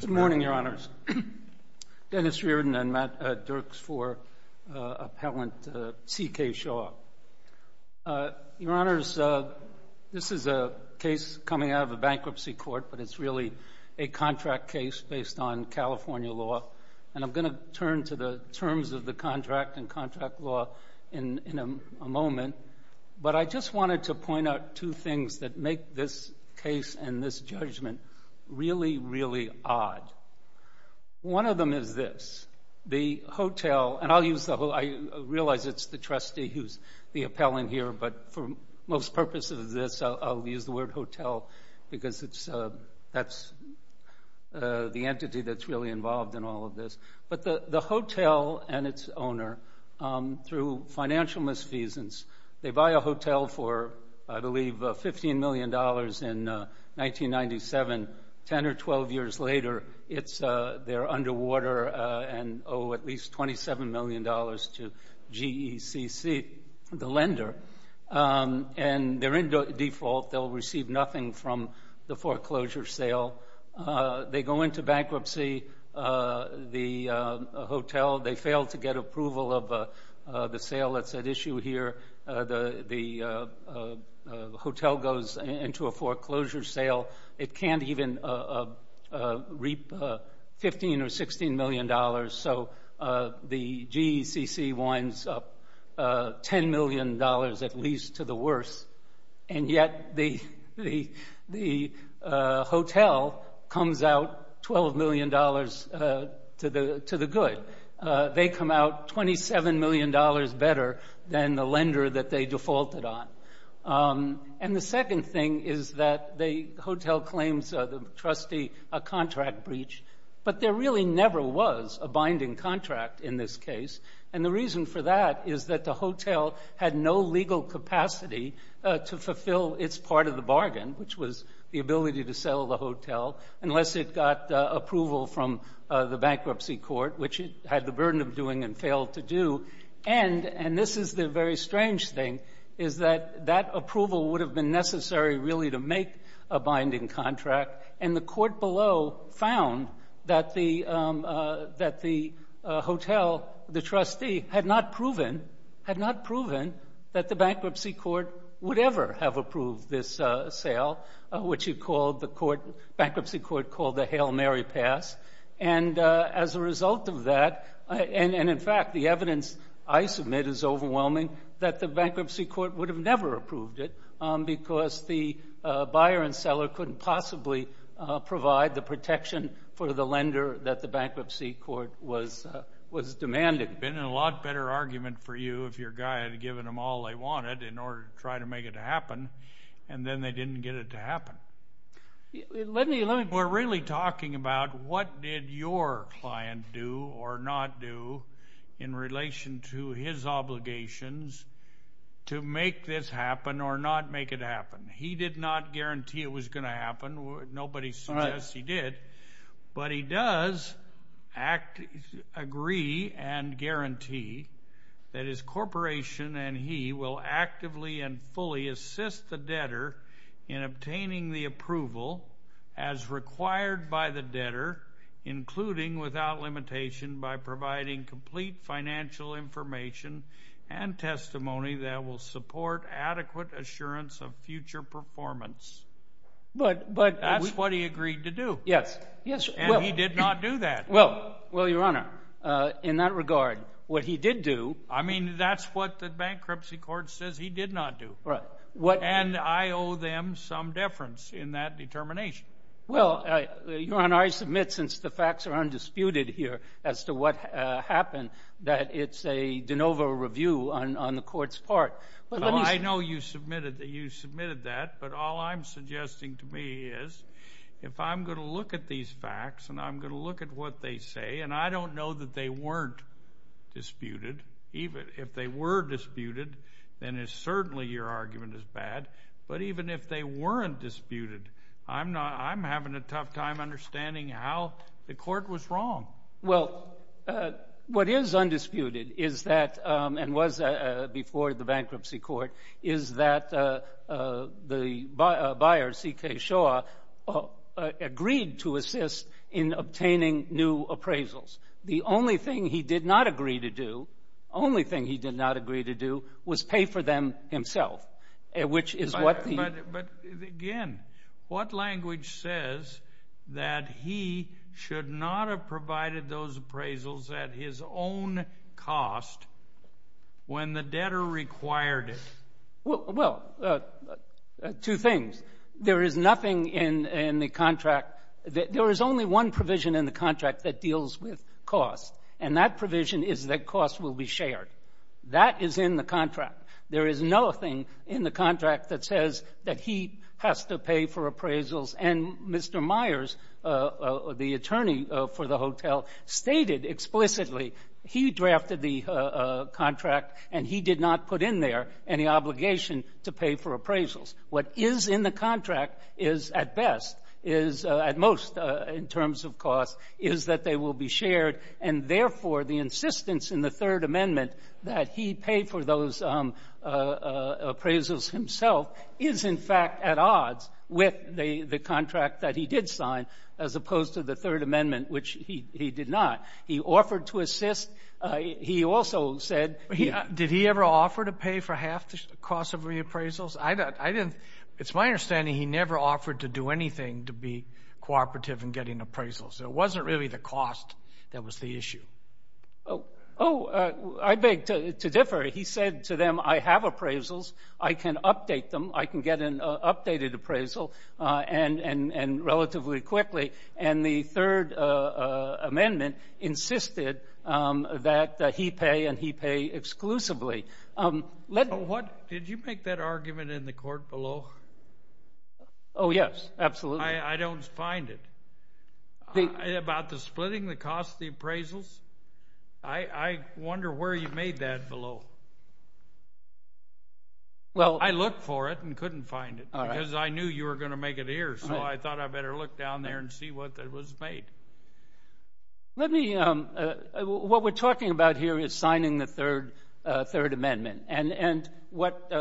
Good morning, Your Honors. Dennis Reardon and Matt Dirks for appellant C.K. Shah. Your Honors, this is a case coming out of a bankruptcy court, but it's really a contract case based on California law. And I'm going to turn to the terms of the contract and contract law in a moment, but I just wanted to point out two things that make this case and this judgment really, really odd. One of them is this. The hotel, and I realize it's the trustee who's the appellant here, but for most purposes of this, I'll use the word hotel because that's the entity that's really involved in all of this. But the hotel and its owner, through financial misfeasance, they buy a hotel for, I believe, $15 million in 1997. Ten or 12 years later, they're underwater and owe at least $27 million to GECC, the lender. And they're in default. They'll receive nothing from the foreclosure sale. They go into bankruptcy. The hotel, they fail to get approval of the sale that's at issue here. The hotel goes into a foreclosure sale. It can't even reap $15 or $16 million. So the GECC winds up $10 million at least to the worst, and yet the hotel comes out $12 million to the good. They come out $27 million better than the lender that they defaulted on. And the second thing is that the hotel claims the trustee a contract breach, but there really never was a binding contract in this case. And the reason for that is that the hotel had no legal capacity to fulfill its part of the bargain, which was the ability to sell the hotel, unless it got approval from the bankruptcy court, which it had the burden of doing and failed to do. And this is the very strange thing, is that that approval would have been necessary really to make a binding contract. And the court below found that the hotel, the trustee, had not proven, had not proven that the bankruptcy court would ever have approved this sale, which the bankruptcy court called the Hail Mary Pass. And as a result of that, and in fact the evidence I submit is overwhelming, that the bankruptcy court would have never approved it, because the buyer and seller couldn't possibly provide the protection for the lender that the bankruptcy court was demanding. It would have been a lot better argument for you if your guy had given them all they wanted in order to try to make it happen, and then they didn't get it to happen. We're really talking about what did your client do or not do in relation to his obligations to make this happen or not make it happen. He did not guarantee it was going to happen. Nobody suggests he did. But he does agree and guarantee that his corporation and he will actively and fully assist the debtor in obtaining the approval as required by the testimony that will support adequate assurance of future performance. That's what he agreed to do. And he did not do that. Well, Your Honor, in that regard, what he did do... I mean, that's what the bankruptcy court says he did not do. Right. And I owe them some deference in that determination. Well, Your Honor, I submit, since the facts are undisputed here as to what happened, that it's a de novo review on the Court's part. Well, I know you submitted that, but all I'm suggesting to me is if I'm going to look at these facts and I'm going to look at what they say, and I don't know that they weren't disputed, even if they were disputed, then certainly your argument is bad. But even if they weren't disputed, I'm having a tough time understanding how the Court was wrong. Well, what is undisputed is that, and was before the bankruptcy court, is that the buyer, C.K. Shaw, agreed to assist in obtaining new appraisals. The only thing he did not agree to do, only thing he did not agree to do, was pay for them himself, which is what the... But again, what language says that he should not have provided those appraisals at his own cost when the debtor required it? Well, two things. There is nothing in the contract... There is only one provision in the contract that deals with cost, and that provision is That is in the contract. There is nothing in the contract that says that he has to pay for appraisals. And Mr. Myers, the attorney for the hotel, stated explicitly he drafted the contract and he did not put in there any obligation to pay for appraisals. What is in the contract is, at best, is, at most in terms of cost, is that they will And, therefore, the insistence in the Third Amendment that he pay for those appraisals himself is, in fact, at odds with the contract that he did sign, as opposed to the Third Amendment, which he did not. He offered to assist. He also said... Did he ever offer to pay for half the cost of reappraisals? I didn't... It's my understanding he never offered to do anything to be cooperative in getting appraisals. It wasn't really the cost that was the issue. Oh, I beg to differ. He said to them, I have appraisals. I can update them. I can get an updated appraisal, and relatively quickly. And the Third Amendment insisted that he pay and he pay exclusively. Did you make that argument in the court below? Oh, yes, absolutely. I don't find it. About the splitting the cost of the appraisals? I wonder where you made that below. I looked for it and couldn't find it, because I knew you were going to make it here, so I thought I better look down there and see what was made. Let me... What we're talking about here is signing the Third Amendment, and what...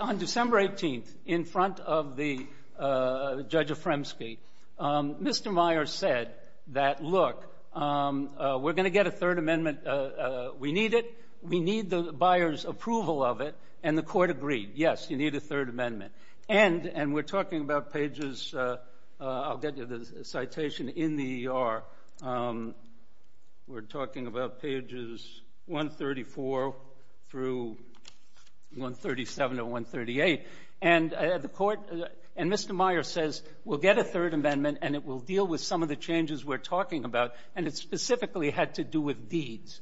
On December 18th, in front of the Judge Afremsky, Mr. Meyer said that, look, we're going to get a Third Amendment. We need it. We need the buyer's approval of it. And the court agreed, yes, you need a Third Amendment. And we're talking about pages... I'll get you the citation in the ER. We're talking about pages 134 through 137 or 138. And the court... And Mr. Meyer says, we'll get a Third Amendment, and it will deal with some of the changes we're talking about, and it specifically had to do with deeds,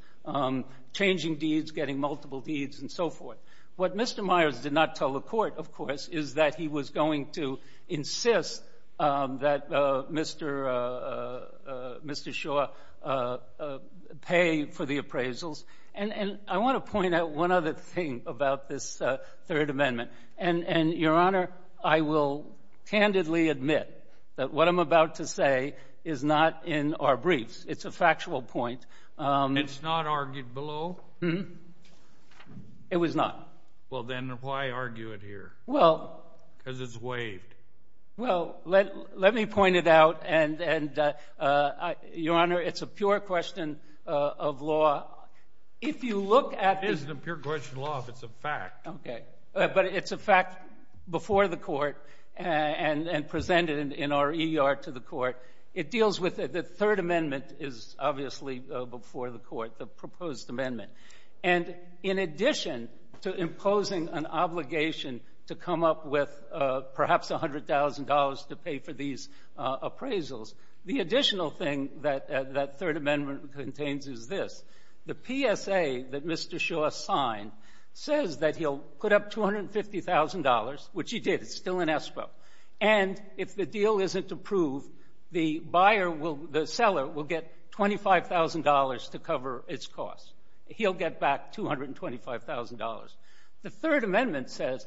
changing deeds, getting multiple deeds, and so forth. What Mr. Meyer did not tell the court, of course, is that he was going to insist that Mr. Shaw pay for the appraisals. And I want to point out one other thing about this Third Amendment. And Your Honor, I will candidly admit that what I'm about to say is not in our briefs. It's a factual point. It's not argued below? It was not. Well, then why argue it here? Well... Because it's waived. Well, let me point it out, and Your Honor, it's a pure question of law. If you look at... It isn't a pure question of law, it's a fact. Okay. But it's a fact before the court and presented in our ER to the court. It deals with... The Third Amendment is obviously before the court, the proposed amendment. And in addition to imposing an obligation to come up with perhaps $100,000 to pay for these appraisals, the additional thing that that Third Amendment contains is this. The PSA that Mr. Shaw signed says that he'll put up $250,000, which he did, it's still in escrow. And if the deal isn't approved, the buyer will... The seller will get $25,000 to cover its costs. He'll get back $225,000. The Third Amendment says...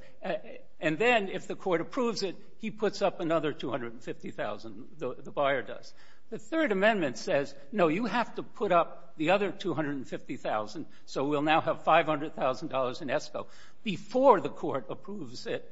And then, if the court approves it, he puts up another $250,000, the buyer does. The Third Amendment says, no, you have to put up the other $250,000, so we'll now have $500,000 in escrow before the court approves it,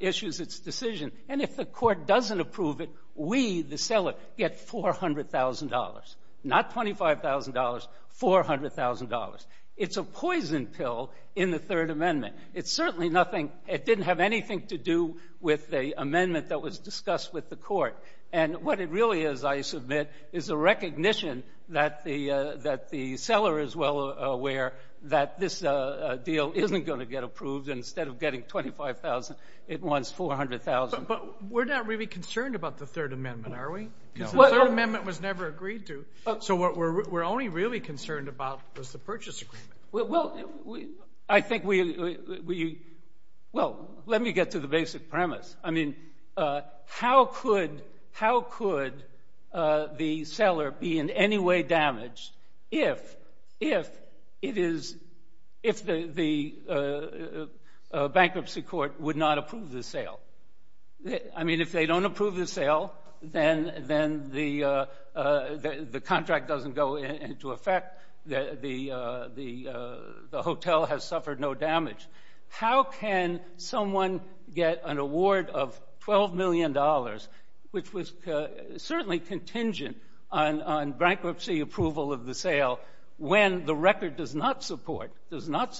issues its decision. And if the court doesn't approve it, we, the seller, get $400,000. Not $25,000, $400,000. It's a poison pill in the Third Amendment. It's certainly nothing — it didn't have anything to do with the amendment that was discussed with the court. And what it really is, I submit, is a recognition that the — that the seller is well aware that this deal isn't going to get approved, and instead of getting $25,000, it wants $400,000. But we're not really concerned about the Third Amendment, are we? Because the Third Amendment was never agreed to. So what we're only really concerned about was the purchase agreement. Well, I think we — well, let me get to the basic premise. I mean, how could — how could the seller be in any way damaged if — if it is — if the bankruptcy court would not approve the sale? I mean, if they don't approve the sale, then — then the contract doesn't go into effect. The hotel has suffered no damage. How can someone get an award of $12 million, which was certainly contingent on bankruptcy approval of the sale, when the record does not support — does not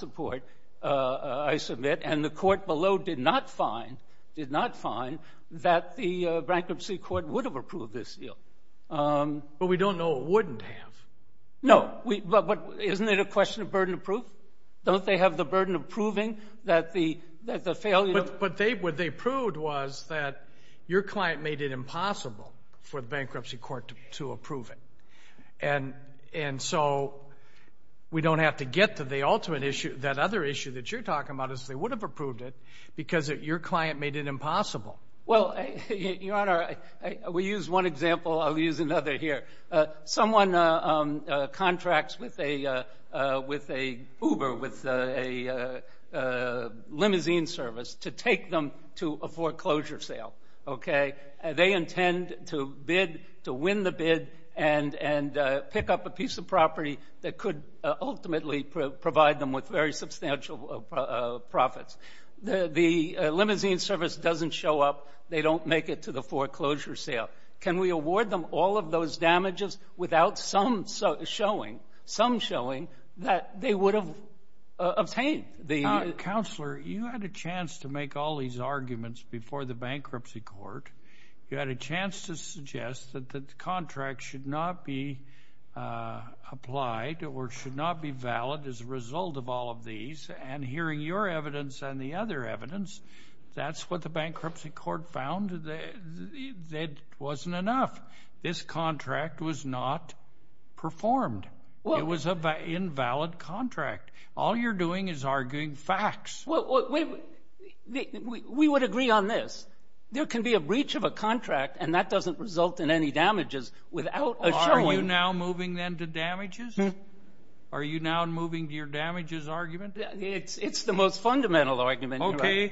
find that the bankruptcy court would have approved this deal? But we don't know it wouldn't have. No. We — but isn't it a question of burden of proof? Don't they have the burden of proving that the — that the failure of — But they — what they proved was that your client made it impossible for the bankruptcy court to approve it. And — and so we don't have to get to the ultimate issue. That other issue that you're talking about is they would have approved it because your client made it impossible. Well, Your Honor, we use one example. I'll use another here. Someone contracts with a — with a Uber, with a limousine service, to take them to a foreclosure sale, OK? They intend to bid — to win the bid and — and pick up a piece of property that could ultimately provide them with very substantial profits. The — the limousine service doesn't show up. They don't make it to the foreclosure sale. Can we award them all of those damages without some showing — some showing that they would have obtained the — Counselor, you had a chance to make all these arguments before the bankruptcy court. You had a chance to suggest that the contract should not be applied or should not be valid as a result of all of these. And hearing your evidence and the other evidence, that's what the bankruptcy court found. That wasn't enough. This contract was not performed. It was an invalid contract. All you're doing is arguing facts. Well, we would agree on this. There can be a breach of a contract, and that doesn't result in any damages without a showing. Well, are you now moving then to damages? Are you now moving to your damages argument? It's the most fundamental argument. Okay.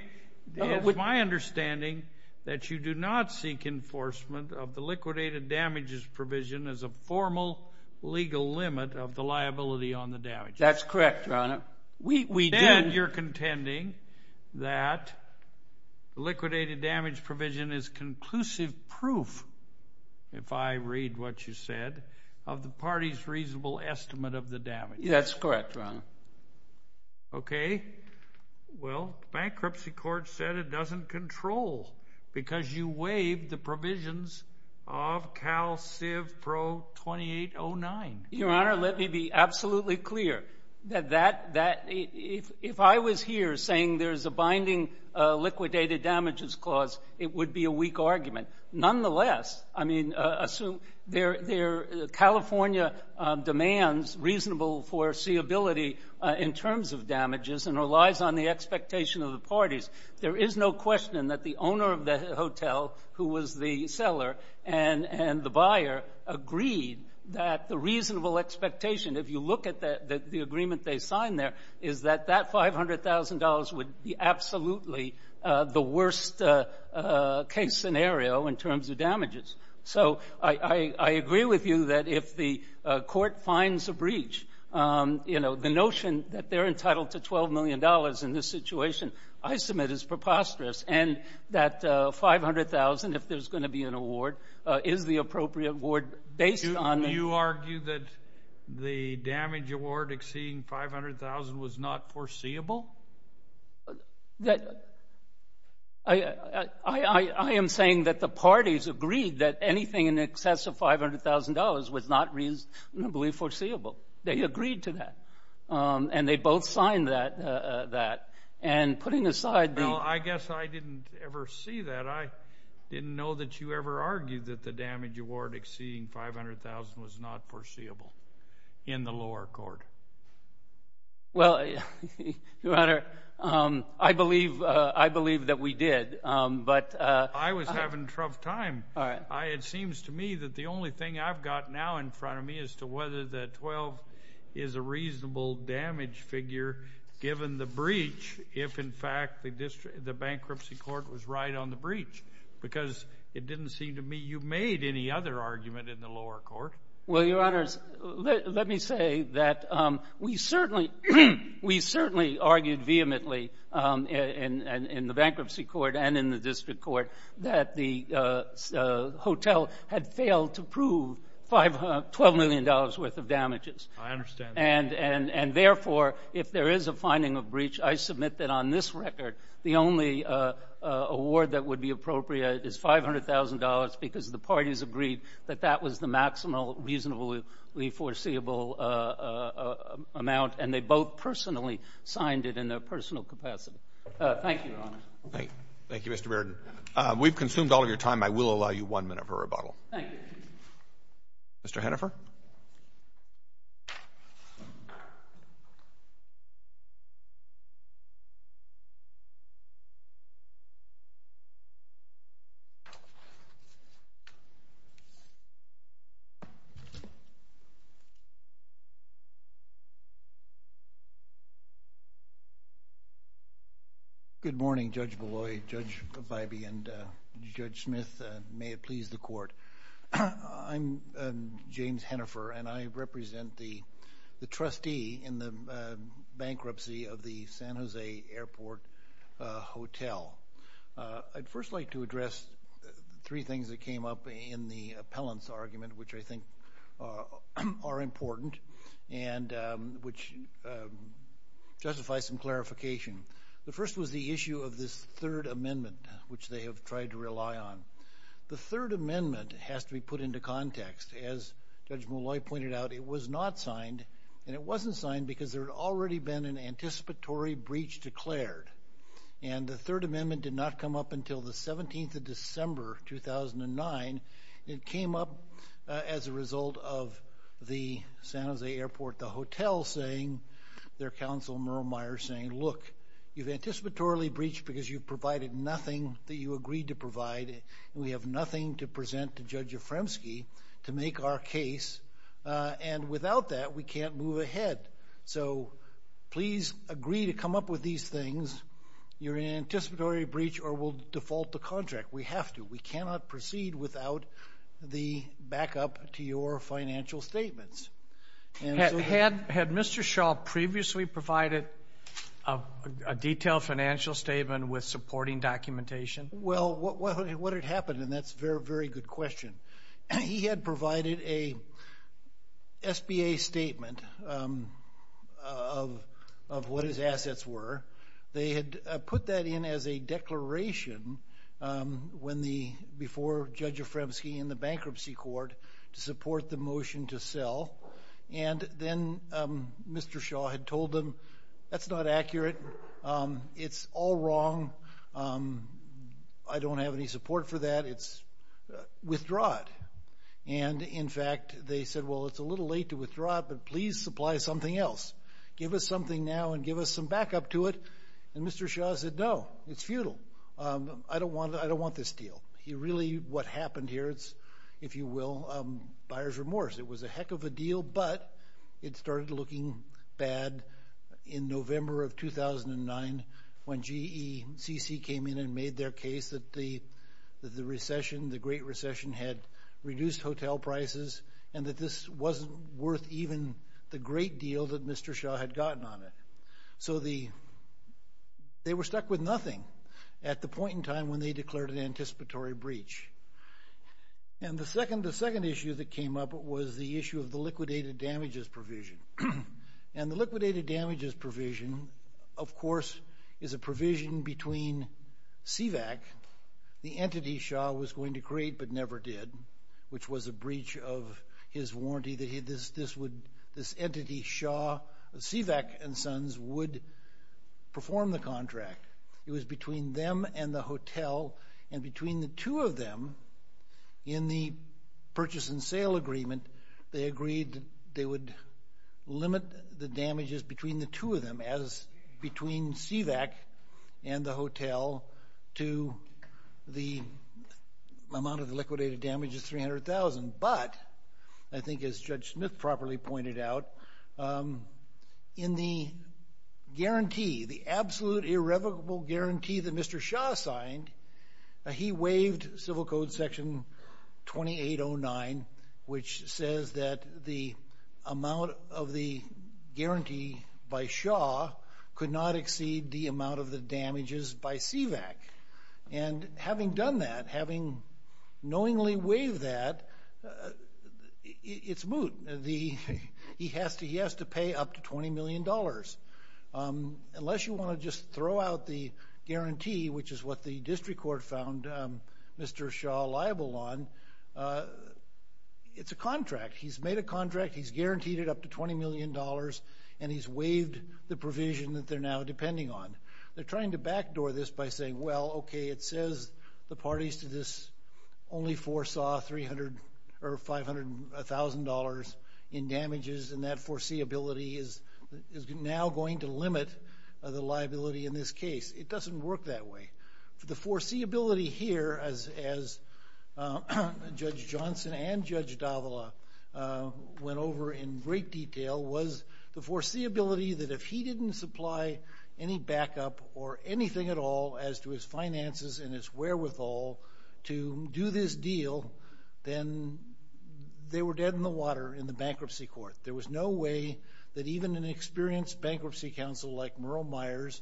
It's my understanding that you do not seek enforcement of the liquidated damages provision as a formal legal limit of the liability on the damages. That's correct, Your Honor. We did. Then you're contending that liquidated damage provision is conclusive proof, if I read what you said, of the party's reasonable estimate of the damages. That's correct, Your Honor. Okay. Well, bankruptcy court said it doesn't control, because you waived the provisions of CalCivPro2809. Your Honor, let me be absolutely clear that if I was here saying there's a binding liquidated damages clause, it would be a weak argument. Nonetheless, I mean, California demands reasonable foreseeability in terms of damages and relies on the expectation of the parties. There is no question that the owner of the hotel, who was the seller and the buyer, agreed that the reasonable expectation, if you look at the agreement they signed there, is that that $500,000 would be absolutely the worst case scenario in terms of damages. So I agree with you that if the court finds a breach, you know, the notion that they're entitled to $12 million in this situation, I submit, is preposterous. And that $500,000, if there's going to be an award, is the appropriate award based on that. Do you argue that the damage award exceeding $500,000 was not foreseeable? I am saying that the parties agreed that anything in excess of $500,000 was not reasonably foreseeable. They agreed to that. And they both signed that. And putting aside the- Well, I guess I didn't ever see that. I didn't know that you ever argued that the damage award exceeding $500,000 was not foreseeable in the lower court. Well, Your Honor, I believe that we did. But- I was having a tough time. It seems to me that the only thing I've got now in front of me as to whether the damage figure, given the breach, if, in fact, the bankruptcy court was right on the breach, because it didn't seem to me you made any other argument in the lower court. Well, Your Honors, let me say that we certainly argued vehemently in the bankruptcy court and in the district court that the hotel had failed to prove $12 million worth of damages. I understand that. And, therefore, if there is a finding of breach, I submit that on this record, the only award that would be appropriate is $500,000 because the parties agreed that that was the maximal reasonably foreseeable amount. And they both personally signed it in their personal capacity. Thank you, Your Honor. Thank you, Mr. Bearden. We've consumed all of your time. I will allow you one minute for rebuttal. Thank you. Mr. Hennifer? Good morning, Judge Bolloy, Judge Vibey, and Judge Smith. May it please the Court. I'm James Hennifer, and I represent the trustee in the bankruptcy of the San Jose Airport Hotel. I'd first like to address three things that came up in the appellant's argument, which I think are important and which justify some clarification. The first was the issue of this third amendment, which they have tried to rely on. The third amendment has to be put into context. As Judge Bolloy pointed out, it was not signed, and it wasn't signed because there had already been an anticipatory breach declared. And the third amendment did not come up until the 17th of December 2009. It came up as a result of the San Jose Airport Hotel saying, their counsel, Merle Myers, saying, look, you've anticipatorily breached because you've agreed to provide, and we have nothing to present to Judge Efremsky to make our case. And without that, we can't move ahead. So please agree to come up with these things. You're in an anticipatory breach, or we'll default the contract. We have to. We cannot proceed without the backup to your financial statements. Had Mr. Shaw previously provided a detailed financial statement with supporting documentation? Well, what had happened, and that's a very, very good question. He had provided a SBA statement of what his assets were. They had put that in as a declaration before Judge Efremsky and the bankruptcy court to support the motion to sell. And then Mr. Shaw had told them, that's not accurate. It's all wrong. I don't have any support for that. It's withdrawn. And in fact, they said, well, it's a little late to withdraw it, but please supply something else. Give us something now and give us some backup to it. And Mr. Shaw said, no, it's futile. I don't want this deal. He really, what happened here, it's, if you will, buyer's remorse. It was a heck of a deal, but it started looking bad in November of 2009 when GECC came in and made their case that the recession, the Great Recession, had reduced hotel prices and that this wasn't worth even the great deal that Mr. Shaw had gotten on it. So they were stuck with nothing at the point in time when they declared an anticipatory breach. And the second issue that came up was the issue of the liquidated damages provision. And the liquidated damages provision, of course, is a provision between CVAC, the entity Shaw was going to create but never did, which was a breach of his warranty that this entity, CVAC and Sons, would perform the contract. It was between them and the hotel, and between the two of them in the purchase and sale agreement, they agreed that they would limit the damages between the two of them as between CVAC and the hotel to the amount of the liquidated damages, 300,000. But I think as Judge Smith properly pointed out, in the guarantee, the absolute irrevocable guarantee that Mr. Shaw signed, he waived Civil Code Section 2809, which says that the amount of the guarantee by Shaw could not exceed the amount of the damages by CVAC. And having done that, having knowingly waived that, it's moot. He has to pay up to $20 million. Unless you want to just throw out the guarantee, which is what the district court found Mr. Shaw liable on, it's a contract. He's made a contract, he's guaranteed it up to $20 million, and he's waived the provision that they're now depending on. They're trying to backdoor this by saying, well, OK, it says the parties to this only foresaw $500,000 in damages, and that foreseeability is now going to limit the liability in this case. It doesn't work that way. The foreseeability here, as Judge Johnson and Judge Davila went over in great detail, was the foreseeability that if he didn't supply any backup or anything at all as to his finances and his wherewithal to do this deal, then they were dead in the water in the bankruptcy court. There was no way that even an experienced bankruptcy counsel like Merle Myers,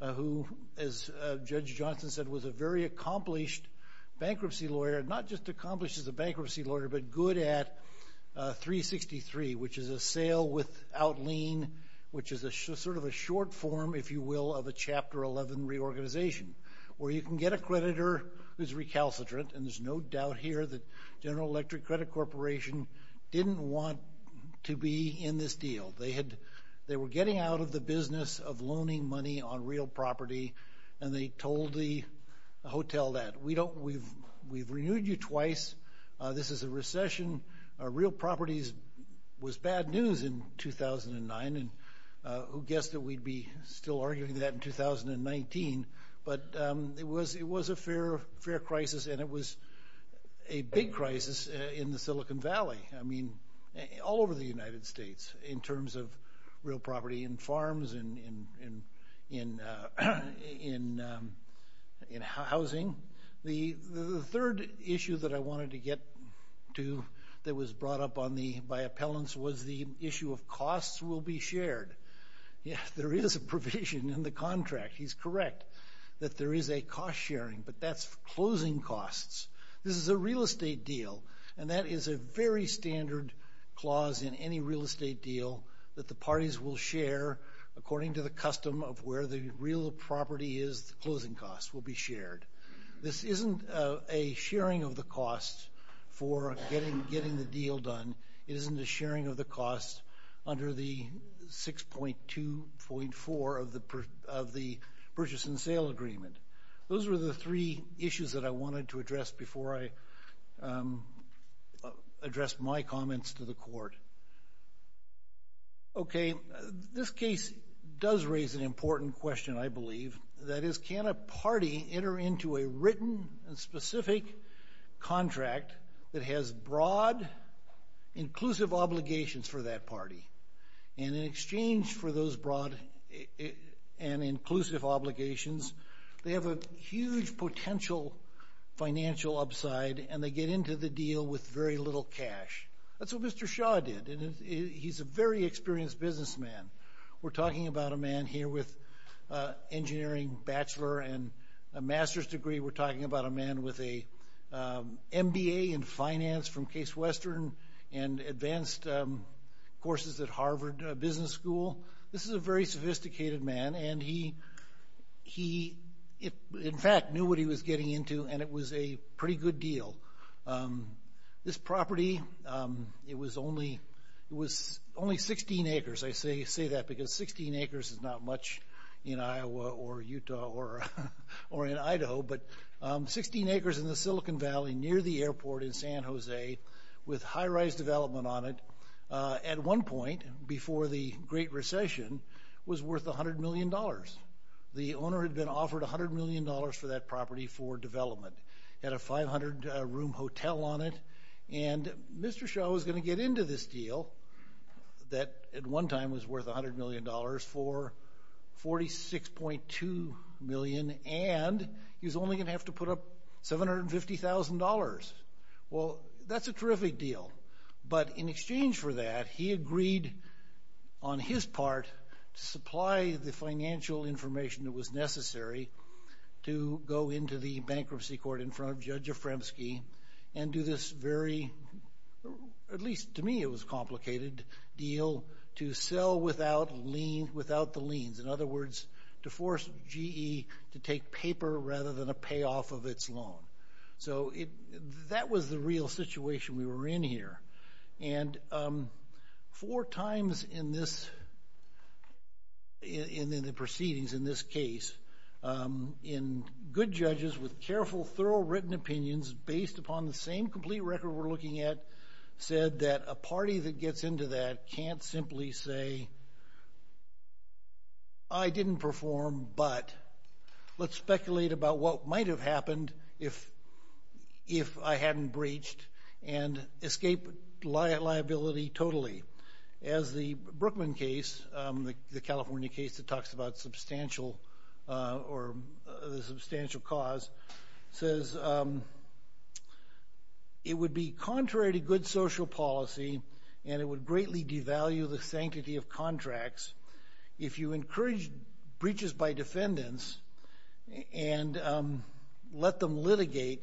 who, as Judge Johnson said, was a very accomplished bankruptcy lawyer, not just accomplished as a bankruptcy lawyer, but good at 363, which is a sale without lien, which is sort of a short form, if you will, of a Chapter 11 reorganization, where you can get a creditor who's recalcitrant, and there's no doubt here that General Electric Credit Corporation didn't want to be in this deal. They were getting out of the business of loaning money on real property, and they told the hotel that, we've renewed you twice, this is a recession, real properties was bad news in 2009, and who guessed that we'd be still arguing that in 2019, but it was a fair crisis, and it was a big crisis in the Silicon Valley. I mean, all over the United States in terms of real property in farms, in housing. The third issue that I wanted to get to that was brought up by appellants was the issue of costs will be shared. Yeah, there is a provision in the contract, he's correct, that there is a cost sharing, but that's closing costs. This is a real estate deal, and that is a very standard clause in any real estate deal, that the parties will share according to the custom of where the real property is, the closing costs will be shared. This isn't a sharing of the cost for getting the deal done, it isn't a sharing of costs under the 6.2.4 of the purchase and sale agreement. Those were the three issues that I wanted to address before I address my comments to the court. Okay, this case does raise an important question, I believe, that is can a party enter into a written and specific contract that has broad inclusive obligations for that party, and in exchange for those broad and inclusive obligations, they have a huge potential financial upside and they get into the deal with very little cash. That's what Mr. Shaw did, and he's a very experienced businessman. We're talking about a man here with engineering bachelor and a master's degree, we're talking about a man with a MBA in finance from Case Western and advanced courses at Harvard Business School. This is a very sophisticated man and he, in fact, knew what he was getting into and it was a pretty good deal. This property, it was only 16 acres, I say that because 16 acres is not much in Iowa or Utah or in San Jose, with high-rise development on it. At one point, before the Great Recession, it was worth a hundred million dollars. The owner had been offered a hundred million dollars for that property for development, had a 500-room hotel on it, and Mr. Shaw was going to get into this deal that at one time was worth a hundred million dollars for $46.2 million and he was only going to have to pay $1,000. Well, that's a terrific deal, but in exchange for that, he agreed on his part to supply the financial information that was necessary to go into the bankruptcy court in front of Judge Efremsky and do this very, at least to me, it was a complicated deal, to sell without the liens. In other words, to force GE to take paper rather than a payoff of its loan. So, that was the real situation we were in here. And four times in this, in the proceedings in this case, in good judges with careful, thorough, written opinions based upon the same complete record we're looking at, said that a party that gets into that can't simply say, I didn't perform, but let's speculate about what might have happened if I hadn't breached and escape liability totally. As the Brookman case, the California case that talks about substantial or the substantial cause, says it would be contrary to good social policy and it would greatly devalue the sanctity of contracts if you encourage breaches by defendants and let them litigate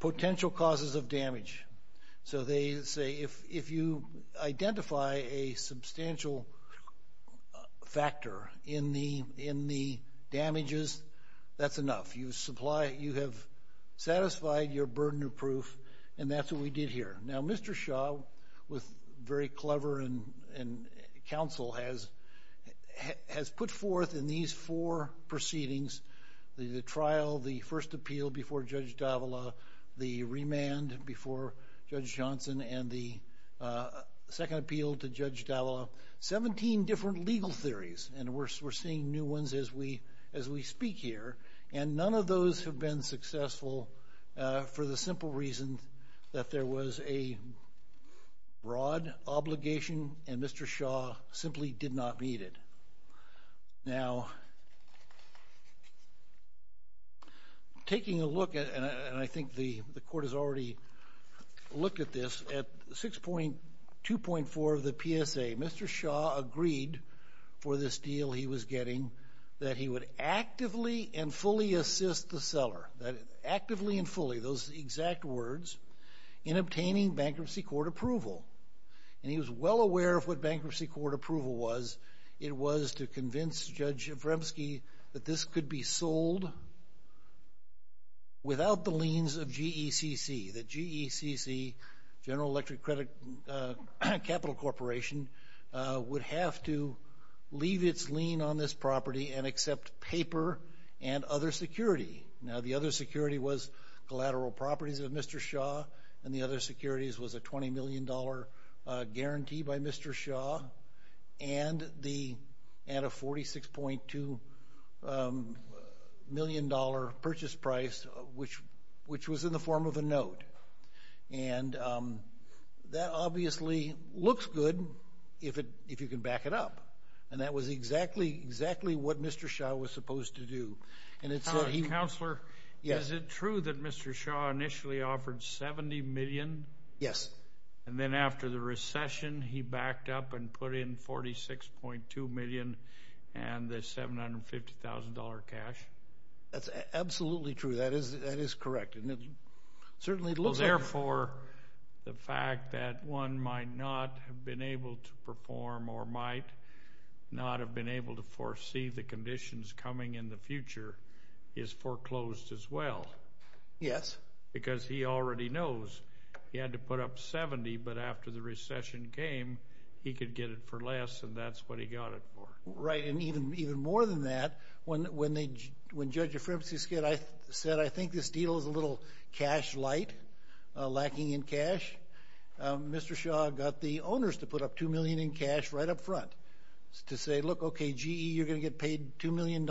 potential causes of damage. So, they say if you identify a substantial factor in the damages, that's enough. You supply, you have satisfied your burden of proof and that's what we did here. Now, Mr. Shaw, with very clever counsel, has put forth in these four proceedings, the trial, the first appeal before Judge Davila, the remand before Judge Johnson, and the second appeal to Judge Davila, 17 different legal theories. And we're seeing new ones as we speak here. And none of those have been successful for the simple reason that there was a broad obligation and Mr. Shaw simply did not meet it. Now, taking a look at, and I think the court has already looked at this, at 6.2.4 of the PSA, Mr. Shaw agreed for this deal he was getting that he would actively and fully assist the seller, that actively and fully, those exact words, in obtaining bankruptcy court approval. And he was well aware of what bankruptcy court approval was. It was to convince Judge Vremsky that this could be sold without the liens of GECC, that GECC, General Electric Credit Capital Corporation, would have to leave its lien on this property and accept paper and other security. Now, the other security was collateral properties of Mr. Shaw, and the other securities was a 20 million dollar guarantee by Mr. Shaw, and a 46.2 million dollar purchase price, which was in the form of a note. And that obviously looks good if you can back it up. And that was exactly what Mr. Shaw was supposed to do. And it's what he... Counselor, is it true that Mr. Shaw initially offered 70 million? Yes. And then after the recession, he backed up and put in 46.2 million and the $750,000 cash? That's absolutely true. That is able to perform or might not have been able to foresee the conditions coming in the future is foreclosed as well. Yes. Because he already knows he had to put up 70, but after the recession came, he could get it for less, and that's what he got it for. Right. And even more than that, when Judge Vremsky said, I think this deal is a little cash light, lacking in cash, Mr. Shaw got the owners to put up 2 million in cash right up front to say, look, okay, GE, you're going to get paid $2 million.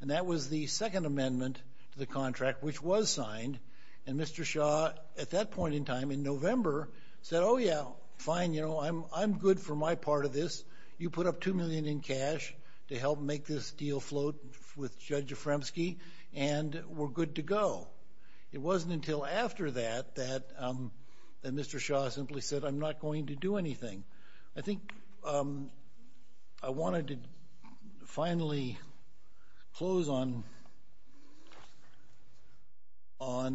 And that was the second amendment to the contract, which was signed. And Mr. Shaw, at that point in time, in November, said, oh, yeah, fine, you know, I'm good for my part of this. You put up 2 million in cash to help make this deal float with Judge Vremsky, and we're good to go. It wasn't until after that that Mr. Shaw simply said, I'm not going to do anything. I think I wanted to finally close on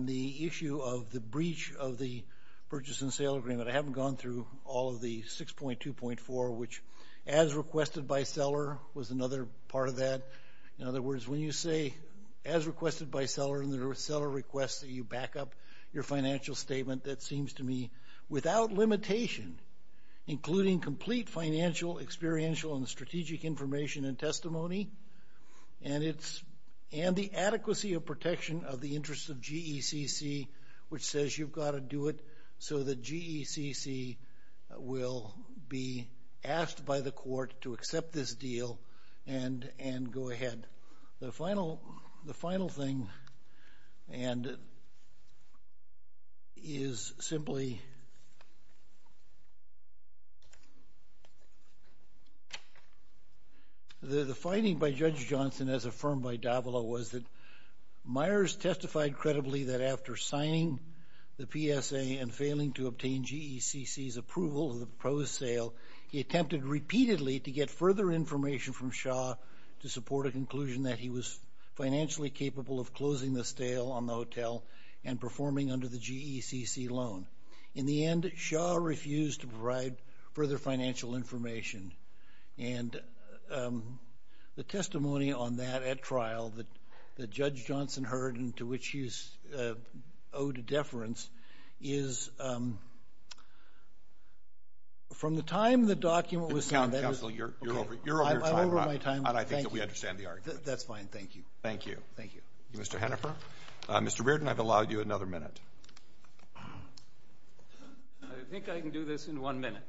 the issue of the breach of the purchase and sale agreement. I haven't gone through all of the 6.2.4, which, as requested by seller, was another part of that. In other words, when you say, as requested by seller, and the seller requests that you back up your financial statement, that seems to me without limitation, including complete financial, experiential, and strategic information and testimony, and the adequacy of protection of the interests of GECC, which says you've got to do it so that GECC will be asked by the court to accept this deal and go ahead. The final thing is simply, the finding by Judge Johnson, as affirmed by Davila, was that Myers testified credibly that after signing the PSA and failing to obtain GECC's approval of the proposed sale, he attempted repeatedly to get further information from Shaw to support a conclusion that he was financially capable of closing the sale on the hotel and performing under the GECC loan. In the end, Shaw refused to provide further financial information. And the testimony on that at trial that Judge Johnson heard and to which he is owed a deference is, from the time the document was signed... Mr. Hennifer, Mr. Reardon, I've allowed you another minute. I think I can do this in one minute.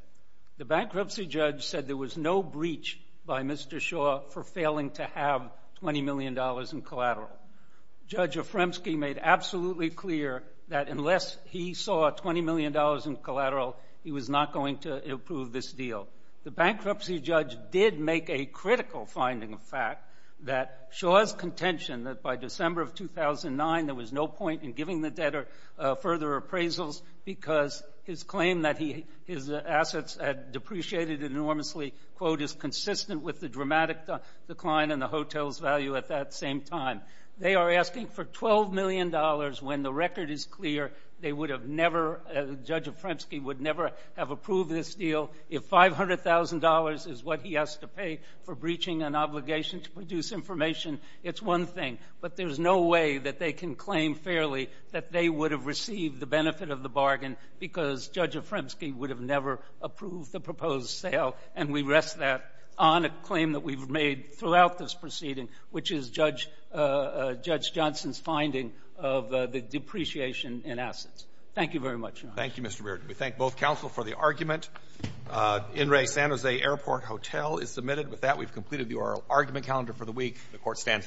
The bankruptcy judge said there was no breach by Mr. Shaw for failing to have $20 million in collateral. Judge Afremsky made absolutely clear that unless he saw $20 million in collateral, he was not going to approve this deal. The bankruptcy judge did make a critical finding of fact that Shaw's contention that by December of 2009, there was no point in giving the debtor further appraisals because his claim that his assets had depreciated enormously, quote, is consistent with the dramatic decline in the hotel's value at that same time. They are asking for $12 million when the record is clear they would have never, Judge Afremsky would never have approved this deal. If $500,000 is what he has to pay for breaching an obligation to produce information, it's one thing. But there's no way that they can claim fairly that they would have received the benefit of the bargain because Judge Afremsky would have never approved the proposed sale. And we rest that on a claim that we've made throughout this proceeding, which is Judge Johnson's finding of the depreciation in assets. Thank you very much, Your Honor. Thank you, Mr. Reardon. We thank both counsel for the argument. In re San Jose Airport Hotel is submitted. With that, we've completed the oral argument calendar for the week. The court stands adjourned.